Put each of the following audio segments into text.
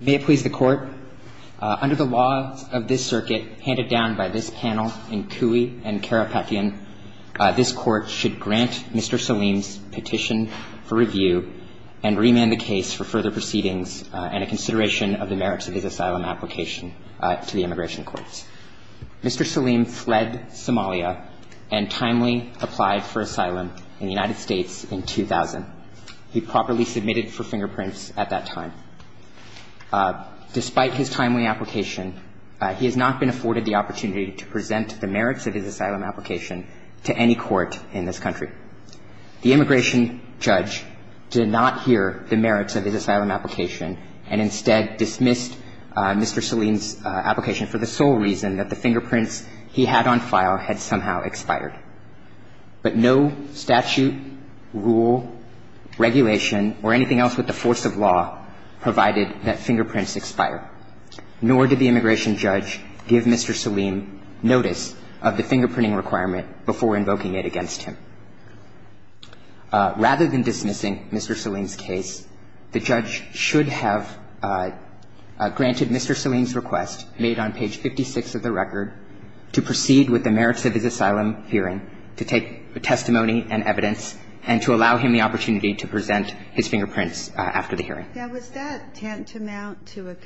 May it please the court, under the law of this circuit handed down by this panel in Cooey and Karapetian, this court should grant Mr. Salim's petition for review and remand the case for further proceedings and a consideration of the merits of his asylum application to the immigration courts. Mr. Salim fled Somalia and timely applied for asylum in the United States in 2000. He properly submitted for fingerprints at that time. Despite his timely application, he has not been afforded the opportunity to present the merits of his asylum application to any court in this country. The immigration judge did not hear the merits of his asylum application and instead dismissed Mr. Salim's application for the sole reason that the fingerprints he had on file had somehow expired. But no statute, rule, regulation, or anything else with the force of law provided that fingerprints expire. Nor did the immigration judge give Mr. Salim notice of the fingerprinting requirement before invoking it against him. Rather than dismissing Mr. Salim's case, the judge should have granted Mr. Salim's request, made on page 56 of the record, to proceed with the merits of his asylum hearing to take testimony and evidence and to allow him the opportunity to present his fingerprints after the hearing. Ginsburg-McGill. And was that tantamount to a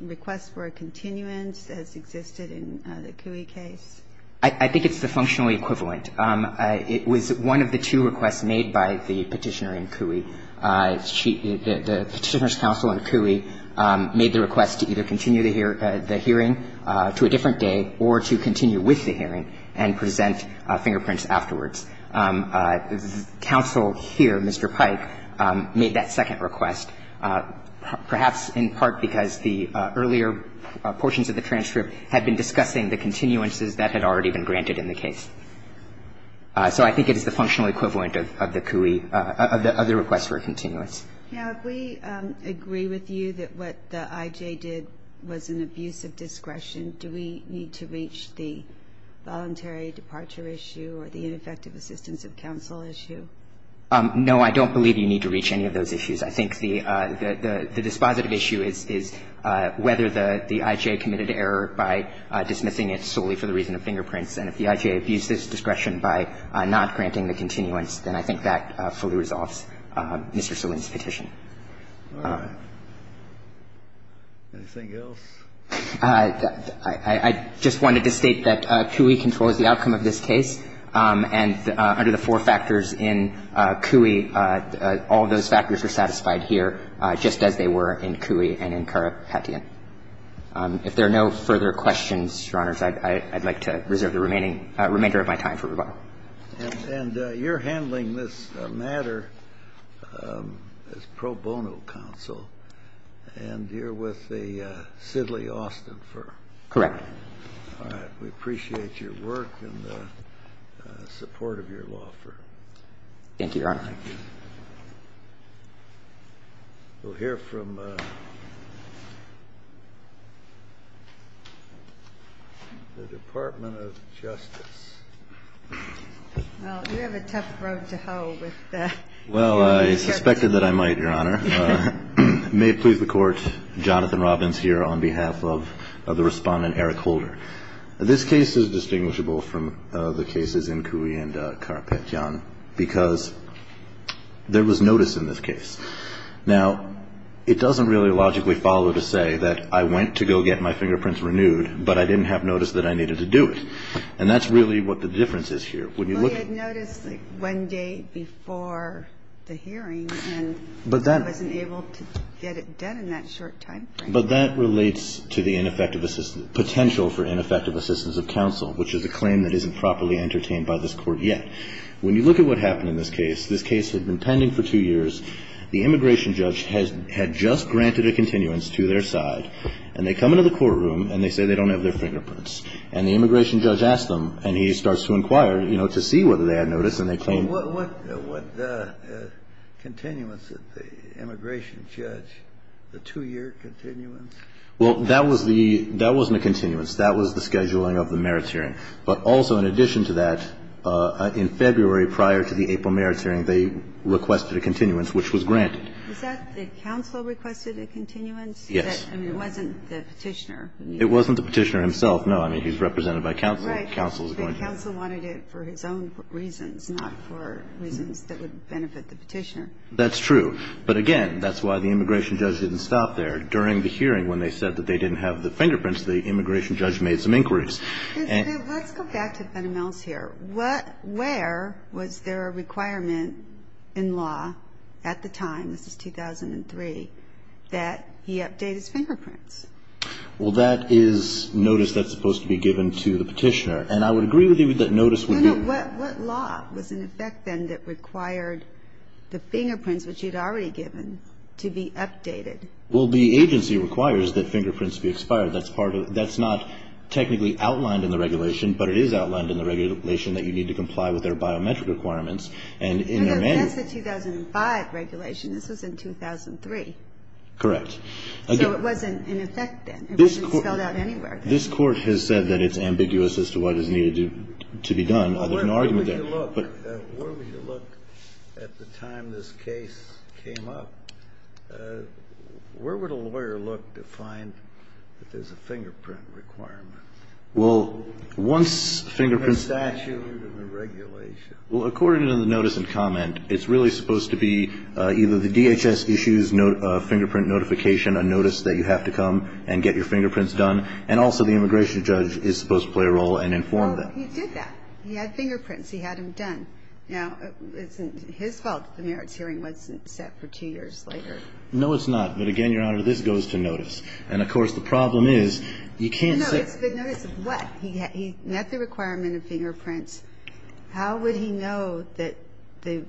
request for a continuance as existed in the Cooey case? I think it's the functional equivalent. It was one of the two requests made by the Petitioner in Cooey. The Petitioner's counsel in Cooey made the request to either continue the hearing to a different day or to continue with the hearing and present fingerprints afterwards. The Petitioner's counsel here, Mr. Pike, made that second request, perhaps in part because the earlier portions of the transcript had been discussing the continuances that had already been granted in the case. So I think it is the functional equivalent of the Cooey, of the request for a continuance. Now, if we agree with you that what the IJ did was an abuse of discretion, do we need to reach the voluntary departure issue or the ineffective assistance of counsel issue? No, I don't believe you need to reach any of those issues. I think the dispositive issue is whether the IJ committed error by dismissing it solely for the reason of fingerprints. And if the IJ abused its discretion by not granting the continuance, then I think that fully resolves Mr. Salin's petition. Anything else? I just wanted to state that Cooey controls the outcome of this case. And under the four factors in Cooey, all of those factors are satisfied here, just as they were in Cooey and in Karapetian. If there are no further questions, Your Honors, I'd like to reserve the remaining of my time for rebuttal. And you're handling this matter as pro bono counsel. And you're with the Sidley Austin firm? Correct. All right. We appreciate your work and the support of your law firm. Thank you, Your Honor. Thank you. We'll hear from the Department of Justice. Well, you have a tough road to hoe with the law firm. Well, I suspected that I might, Your Honor. May it please the Court, Jonathan Robbins here on behalf of the Respondent Eric Holder. This case is distinguishable from the cases in Cooey and Karapetian because there was notice in this case. Now, it doesn't really logically follow to say that I went to go get my fingerprints renewed, but I didn't have notice that I needed to do it. And that's really what the difference is here. Well, you had notice one day before the hearing, and I wasn't able to get it done in that short timeframe. But that relates to the potential for ineffective assistance of counsel, which is a claim that isn't properly entertained by this Court yet. When you look at what happened in this case, this case had been pending for two years. The immigration judge had just granted a continuance to their side, and they come into the courtroom, and they say they don't have their fingerprints. And the immigration judge asked them, and he starts to inquire, you know, to see whether they had notice, and they claim. What continuance did the immigration judge, the two-year continuance? Well, that was the – that wasn't a continuance. That was the scheduling of the merits hearing. But also, in addition to that, in February, prior to the April merits hearing, they requested a continuance, which was granted. Is that the counsel requested a continuance? Yes. I mean, it wasn't the Petitioner. It wasn't the Petitioner himself. No. I mean, he's represented by counsel. Right. The counsel wanted it for his own reasons, not for reasons that would benefit the Petitioner. That's true. But again, that's why the immigration judge didn't stop there. During the hearing, when they said that they didn't have the fingerprints, the immigration judge made some inquiries. Let's go back to Fenneman's here. Where was there a requirement in law at the time, this is 2003, that he update his fingerprints? Well, that is notice that's supposed to be given to the Petitioner. And I would agree with you that notice would be – No, no. What law was in effect then that required the fingerprints, which you'd already given, to be updated? Well, the agency requires that fingerprints be expired. That's part of – that's not technically outlined in the regulation, but it is outlined in the regulation that you need to comply with their biometric requirements. And in their manual – No, that's the 2005 regulation. This was in 2003. Correct. So it wasn't in effect then. It wasn't spelled out anywhere then. This court has said that it's ambiguous as to what is needed to be done other than argument there. Where would you look at the time this case came up? Where would a lawyer look to find that there's a fingerprint requirement? Well, once fingerprints – In the statute and the regulation. Well, according to the notice and comment, it's really supposed to be either the DHS issues a fingerprint notification, a notice that you have to come and get your fingerprints done, and also the immigration judge is supposed to play a role and inform them. Oh, he did that. He had fingerprints. He had them done. Now, isn't it his fault that the merits hearing wasn't set for two years later? No, it's not. But, again, Your Honor, this goes to notice. And, of course, the problem is you can't set – No, it's the notice of what? He met the requirement of fingerprints. How would he know that the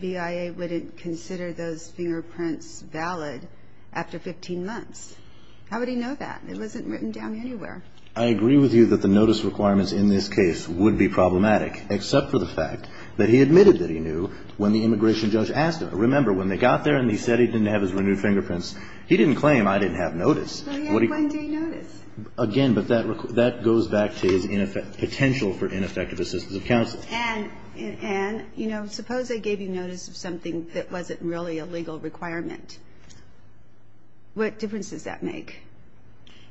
BIA wouldn't consider those fingerprints valid after 15 months? How would he know that? It wasn't written down anywhere. I agree with you that the notice requirements in this case would be problematic, except for the fact that he admitted that he knew when the immigration judge asked him. Remember, when they got there and he said he didn't have his renewed fingerprints, he didn't claim I didn't have notice. But he had one-day notice. Again, but that goes back to his potential for ineffective assistance of counsel. And, you know, suppose they gave you notice of something that wasn't really a legal requirement. What difference does that make?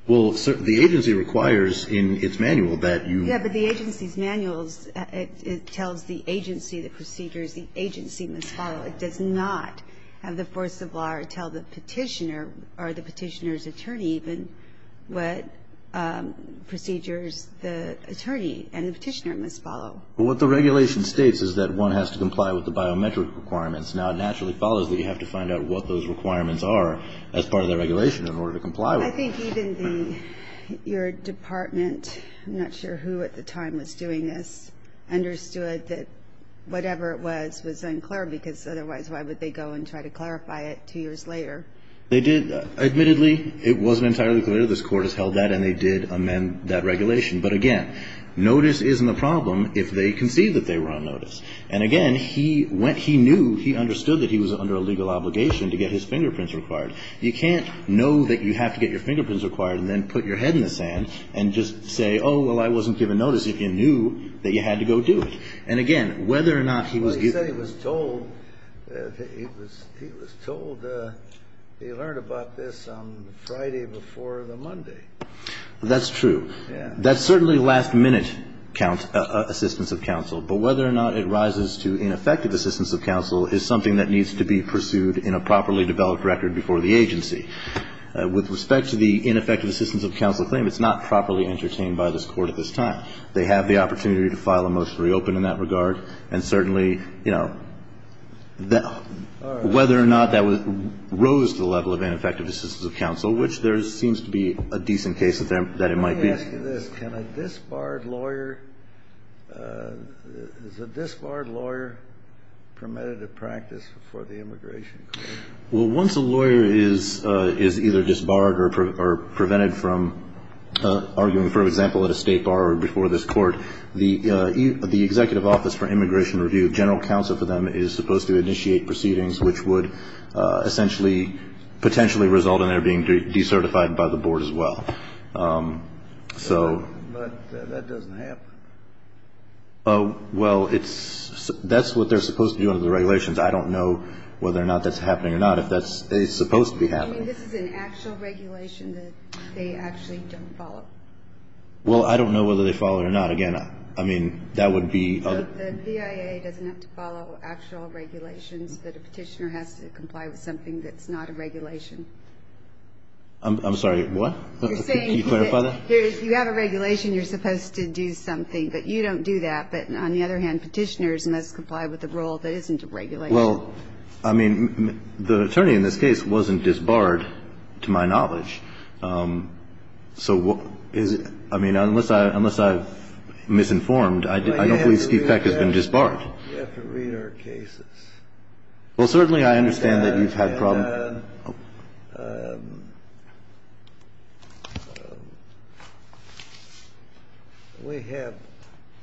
Well, the agency requires in its manual that you – Yeah, but the agency's manual tells the agency the procedures the agency must follow. It does not have the force of law tell the petitioner, or the petitioner's attorney even, what procedures the attorney and the petitioner must follow. Well, what the regulation states is that one has to comply with the biometric requirements. Now, it naturally follows that you have to find out what those requirements are as part of the regulation in order to comply with them. I think even your department – I'm not sure who at the time was doing this – But, again, notice isn't a problem if they concede that they were on notice. And, again, he went – he knew, he understood that he was under a legal obligation to get his fingerprints required. You can't know that you have to get your fingerprints required and then put your head in the sand and just say, oh, well, I wasn't given notice if you knew that you had to go do it. And, again, whether or not he was – Well, he said he was told that he had to go do it. He was told – he learned about this on Friday before the Monday. That's true. That's certainly last-minute assistance of counsel. But whether or not it rises to ineffective assistance of counsel is something that needs to be pursued in a properly developed record before the agency. With respect to the ineffective assistance of counsel claim, it's not properly entertained by this Court at this time. They have the opportunity to file a motion to reopen in that regard, and certainly, you know, whether or not that rose to the level of ineffective assistance of counsel, which there seems to be a decent case that it might be. Let me ask you this. Can a disbarred lawyer – is a disbarred lawyer permitted a practice before the immigration court? Well, once a lawyer is either disbarred or prevented from arguing, for example, at a State bar or before this Court, the Executive Office for Immigration Review, General Counsel for them, is supposed to initiate proceedings which would essentially – potentially result in their being decertified by the Board as well. So – But that doesn't happen. Well, it's – that's what they're supposed to do under the regulations. I don't know whether or not that's happening or not, if that's – it's supposed to be happening. I mean, this is an actual regulation that they actually don't follow. Well, I don't know whether they follow it or not. Again, I mean, that would be – The BIA doesn't have to follow actual regulations, but a Petitioner has to comply with something that's not a regulation. I'm sorry, what? You're saying – Can you clarify that? You have a regulation, you're supposed to do something. But you don't do that. But on the other hand, Petitioners must comply with a rule that isn't a regulation. Well, I mean, the Attorney in this case wasn't disbarred, to my knowledge. So is – I mean, unless I've misinformed, I don't believe Steve Peck has been disbarred. You have to read our cases. Well, certainly I understand that you've had problems. And we have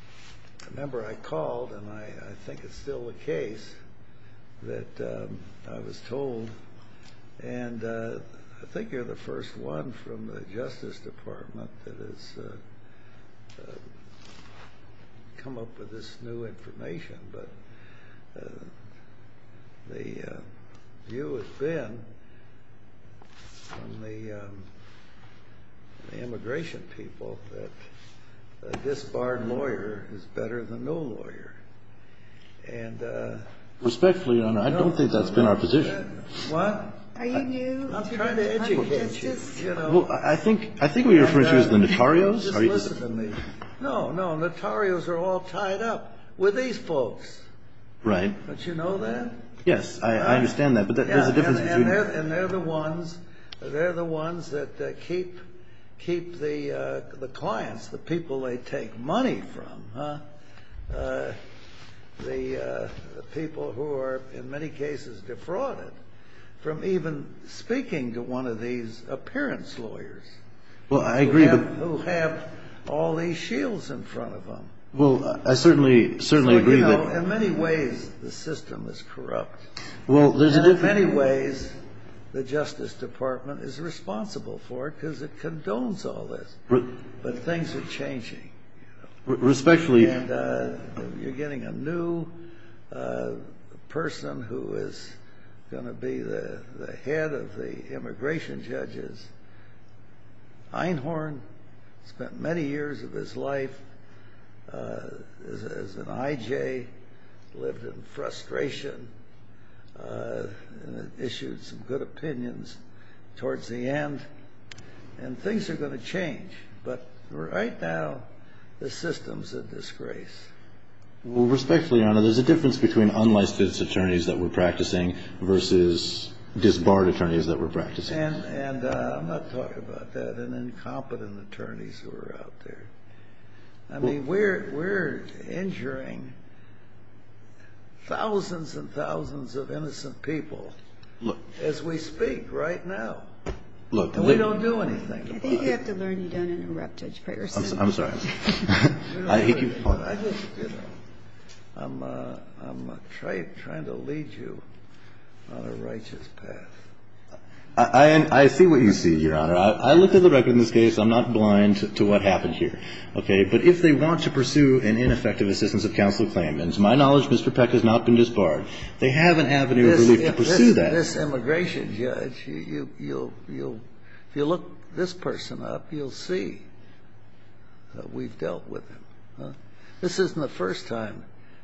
– remember, I called, and I think it's still the case, that I was told – and I think you're the first one from the Justice Department that has come up with this new information. But the view has been from the immigration people that a disbarred lawyer is better than no lawyer. And – Respectfully, Your Honor, I don't think that's been our position. What? I'm trying to educate you. Well, I think what you're referring to is the notarios. Just listen to me. No, no, notarios are all tied up with these folks. Right. Don't you know that? Yes, I understand that. But there's a difference between – And they're the ones – they're the ones that keep the clients, the people they take money from. The people who are in many cases defrauded from even speaking to one of these appearance lawyers. Well, I agree. Who have all these shields in front of them. Well, I certainly agree that – So, you know, in many ways the system is corrupt. Well, there's a – And in many ways the Justice Department is responsible for it because it condones all this. But things are changing. Respectfully – And you're getting a new person who is going to be the head of the immigration judges. Einhorn spent many years of his life as an I.J., lived in frustration, issued some good opinions towards the end. And things are going to change. But right now the system's a disgrace. Well, respectfully, Your Honor, there's a difference between unlicensed attorneys that we're practicing versus disbarred attorneys that we're practicing. And I'm not talking about that and incompetent attorneys who are out there. I mean, we're injuring thousands and thousands of innocent people as we speak right now. Look – And we don't do anything about it. I think you have to learn you don't interrupt, Judge Peterson. I'm sorry. I'm trying to lead you on a righteous path. I see what you see, Your Honor. I looked at the record in this case. I'm not blind to what happened here. Okay. But if they want to pursue an ineffective assistance of counsel claimants, my knowledge, Mr. Peck, has not been disbarred. They have an avenue of relief to pursue that. This immigration judge, if you look this person up, you'll see that we've dealt with him. This isn't the first time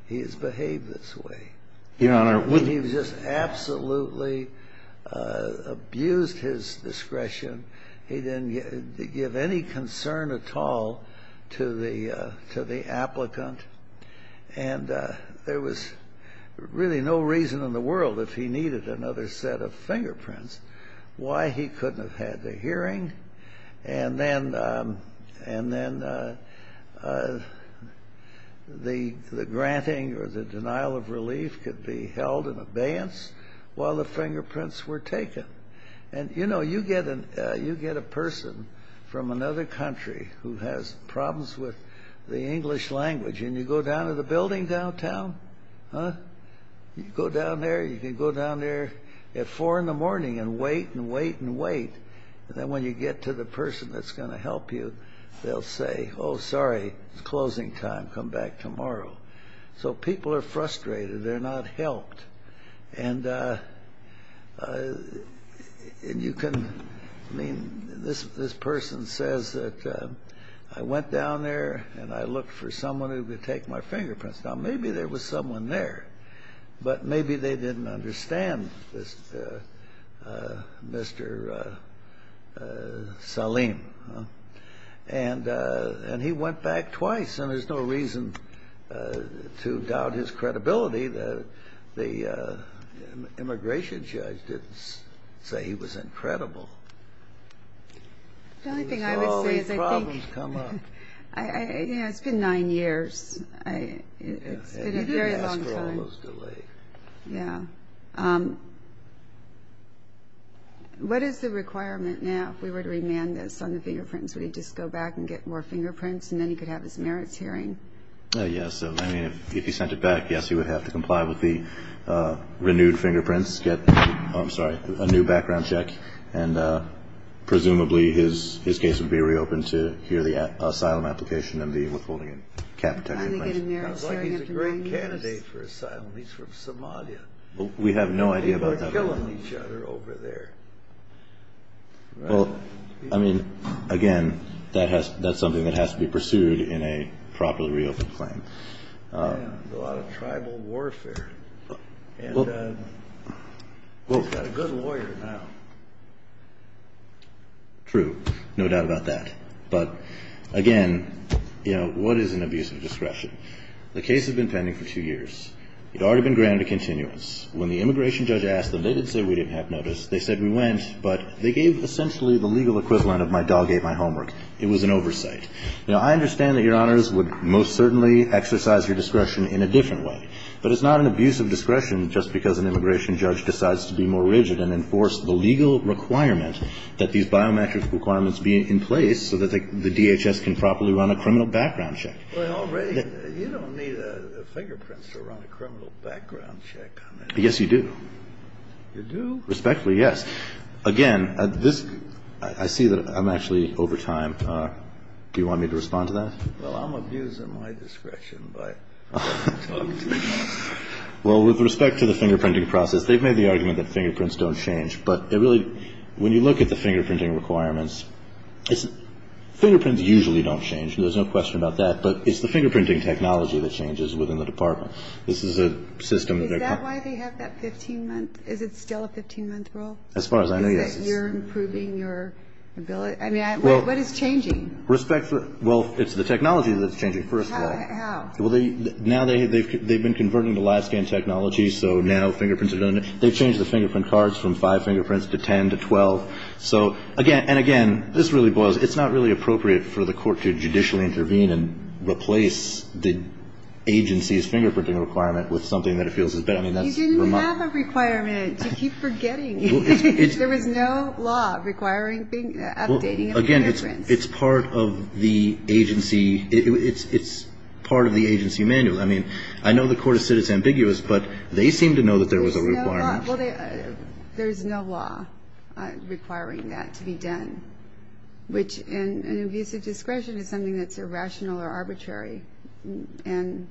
he has behaved this way. Your Honor, when he was just absolutely abused his discretion, he didn't give any concern at all to the applicant. And there was really no reason in the world, if he needed another set of fingerprints, why he couldn't have had the hearing and then the granting or the denial of relief could be held in abeyance while the fingerprints were taken. And, you know, you get a person from another country who has problems with the English language, and you go down to the building downtown, you go down there, you can go down there at 4 in the morning and wait and wait and wait, and then when you get to the person that's going to help you, they'll say, oh, sorry, it's closing time, come back tomorrow. So people are frustrated. They're not helped. And you can, I mean, this person says that I went down there and I looked for someone who could take my fingerprints. Now, maybe there was someone there, but maybe they didn't understand this Mr. Salim. And he went back twice, and there's no reason to doubt his credibility. The immigration judge didn't say he was incredible. So all these problems come up. It's been nine years. It's been a very long time. After all those delays. Yeah. What is the requirement now if we were to remand this on the fingerprints? Would he just go back and get more fingerprints, and then he could have his merits hearing? Yes. I mean, if he sent it back, yes, he would have to comply with the renewed fingerprints, get, I'm sorry, a new background check, and presumably his case would be reopened to hear the asylum application and the withholding of capital. He's a great candidate for asylum. He's from Somalia. We have no idea about that at all. They were killing each other over there. Well, I mean, again, that's something that has to be pursued in a properly reopened claim. Yeah. There's a lot of tribal warfare. And he's got a good lawyer now. True. No doubt about that. But, again, you know, what is an abuse of discretion? The case has been pending for two years. It had already been granted a continuance. When the immigration judge asked them, they didn't say we didn't have notice. They said we went, but they gave essentially the legal equivalent of my dog ate my homework. It was an oversight. Now, I understand that Your Honors would most certainly exercise your discretion in a different way. But it's not an abuse of discretion just because an immigration judge decides to be more rigid and enforce the legal requirement that these biometric requirements be in place so that the DHS can properly run a criminal background check. Well, you don't need a fingerprint to run a criminal background check on that. Yes, you do. You do? Respectfully, yes. Again, I see that I'm actually over time. Do you want me to respond to that? Well, I'm abusing my discretion by talking to you. Well, with respect to the fingerprinting process, they've made the argument that fingerprints don't change. But when you look at the fingerprinting requirements, fingerprints usually don't change. There's no question about that. But it's the fingerprinting technology that changes within the department. Is that why they have that 15-month? Is it still a 15-month rule? As far as I know, yes. Is it you're improving your ability? I mean, what is changing? Well, it's the technology that's changing, first of all. How? Well, now they've been converting to live-scan technology, so now fingerprints are done. They've changed the fingerprint cards from five fingerprints to 10 to 12. So, again, and again, this really boils, it's not really appropriate for the court to judicially intervene and replace the agency's fingerprinting requirement with something that it feels is better. I mean, that's remarkable. You didn't have a requirement to keep forgetting. There was no law requiring updating of the fingerprints. Well, again, it's part of the agency. It's part of the agency manual. I mean, I know the court has said it's ambiguous, but they seem to know that there was a requirement. Well, there's no law requiring that to be done, which in an abuse of discretion is something that's irrational or arbitrary. And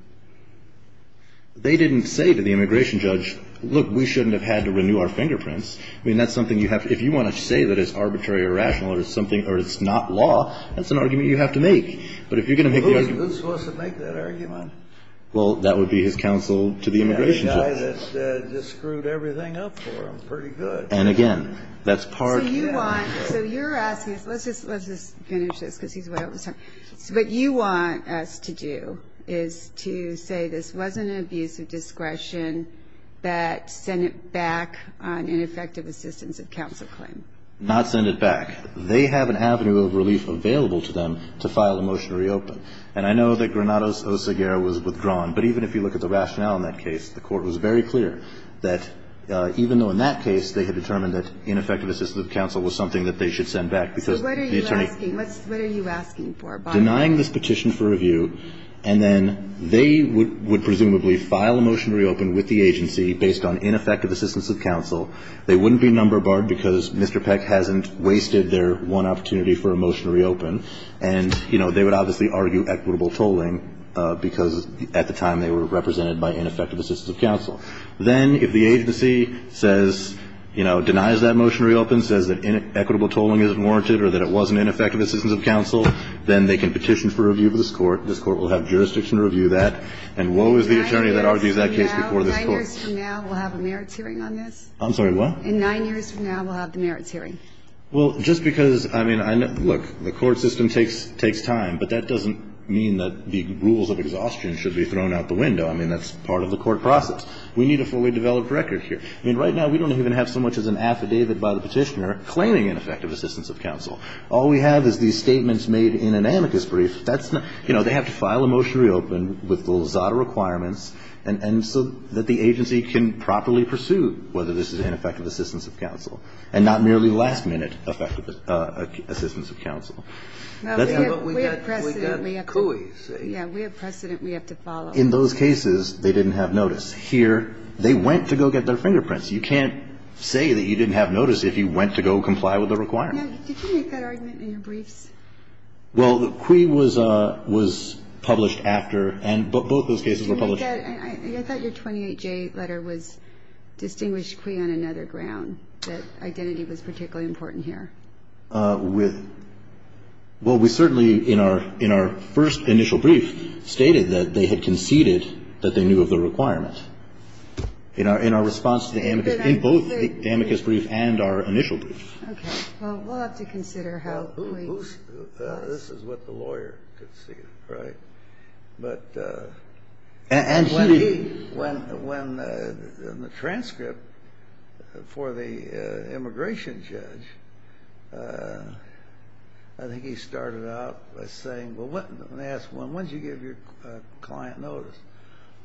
they didn't say to the immigration judge, look, we shouldn't have had to renew our fingerprints. I mean, that's something you have to, if you want to say that it's arbitrary or rational or it's something, or it's not law, that's an argument you have to make. But if you're going to make the argument. Who's supposed to make that argument? Well, that would be his counsel to the immigration judge. The guy that just screwed everything up for him, pretty good. And, again, that's part of the agency. So you're asking us, let's just finish this because he's way over time. What you want us to do is to say this wasn't an abuse of discretion, but send it back on ineffective assistance of counsel claim. Not send it back. They have an avenue of relief available to them to file a motion to reopen. And I know that Granados Oseguera was withdrawn, but even if you look at the rationale in that case, the Court was very clear that even though in that case they had determined that ineffective assistance of counsel was something that they should send back because the attorney So what are you asking? What are you asking for? Denying this petition for review, and then they would presumably file a motion to reopen with the agency based on ineffective assistance of counsel. They wouldn't be number barred because Mr. Peck hasn't wasted their one opportunity for a motion to reopen. And, you know, they would obviously argue equitable tolling because at the time they were represented by ineffective assistance of counsel. Then if the agency says, you know, denies that motion to reopen, says that equitable tolling isn't warranted or that it wasn't ineffective assistance of counsel, then they can petition for review for this Court. This Court will have jurisdiction to review that. And woe is the attorney that argues that case before this Court. Nine years from now, we'll have a merits hearing on this? I'm sorry, what? In nine years from now, we'll have the merits hearing. Well, just because, I mean, look, the court system takes time, but that doesn't mean that the rules of exhaustion should be thrown out the window. I mean, that's part of the court process. We need a fully developed record here. I mean, right now, we don't even have so much as an affidavit by the petitioner claiming ineffective assistance of counsel. All we have is these statements made in an amicus brief. That's not – you know, they have to file a motion to reopen with the Lazada requirements and so that the agency can properly pursue whether this is ineffective assistance of counsel and not merely last-minute effective assistance of counsel. We have precedent. We have CUI, see? Yeah. We have precedent we have to follow. In those cases, they didn't have notice. Here, they went to go get their fingerprints. You can't say that you didn't have notice if you went to go comply with the requirements. Yeah. Did you make that argument in your briefs? Well, the CUI was published after, and both those cases were published. I thought your 28J letter was distinguished CUI on another ground, that identity was particularly important here. Well, we certainly, in our first initial brief, stated that they had conceded that they knew of the requirement. In our response to the amicus – in both the amicus brief and our initial brief. Okay. Well, we'll have to consider how we – This is what the lawyer could see, right? But – And he didn't – When the transcript for the immigration judge, I think he started out by saying, when they asked, when did you give your client notice?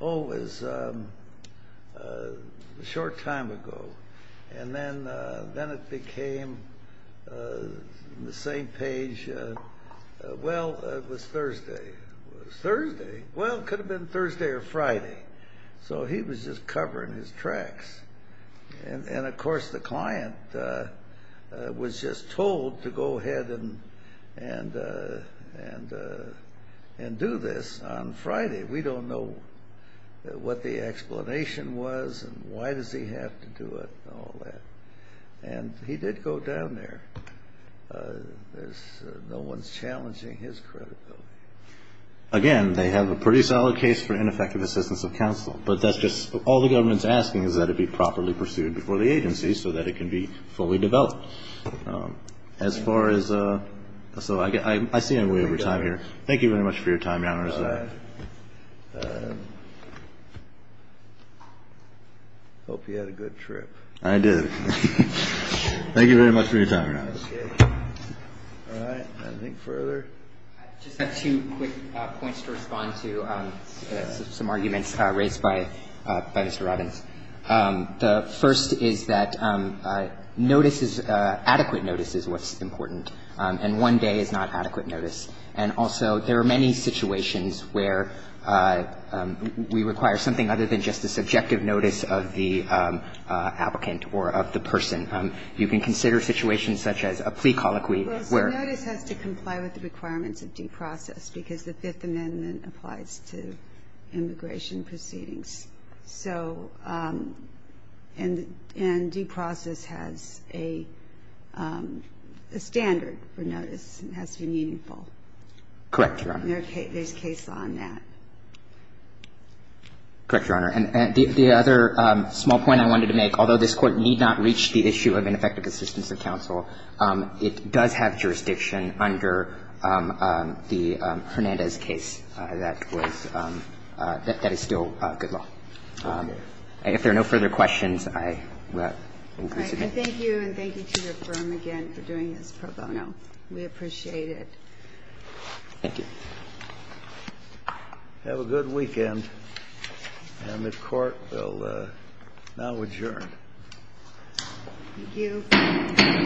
Oh, it was a short time ago. And then it became the same page. It was Thursday? Well, it could have been Thursday or Friday. So he was just covering his tracks. And, of course, the client was just told to go ahead and do this on Friday. We don't know what the explanation was and why does he have to do it and all that. And he did go down there. No one's challenging his credibility. Again, they have a pretty solid case for ineffective assistance of counsel. But that's just – all the government's asking is that it be properly pursued before the agency so that it can be fully developed. As far as – so I see I'm way over time here. Thank you very much for your time, Your Honors. Hope you had a good trip. I did. Thank you very much for your time. All right. Anything further? I just have two quick points to respond to some arguments raised by Mr. Robbins. The first is that notice is – adequate notice is what's important. And one day is not adequate notice. And also there are many situations where we require something other than just a subjective notice of the applicant or of the person. You can consider situations such as a plea colloquy where – where a person has a request for a notice. And that's not a case under the requirements of due process because the Fifth Amendment applies to immigration proceedings. So – and due process has a standard for notice. It has to be meaningful. Correct, Your Honor. There's case law on that. Correct, Your Honor. And the other small point I wanted to make, although this Court need not reach the issue of ineffective assistance of counsel, it does have jurisdiction under the Hernandez case that was – that is still good law. If there are no further questions, I will conclude today. All right. And thank you, and thank you to your firm again for doing this pro bono. We appreciate it. Thank you. Have a good weekend. And the Court will now adjourn. Thank you.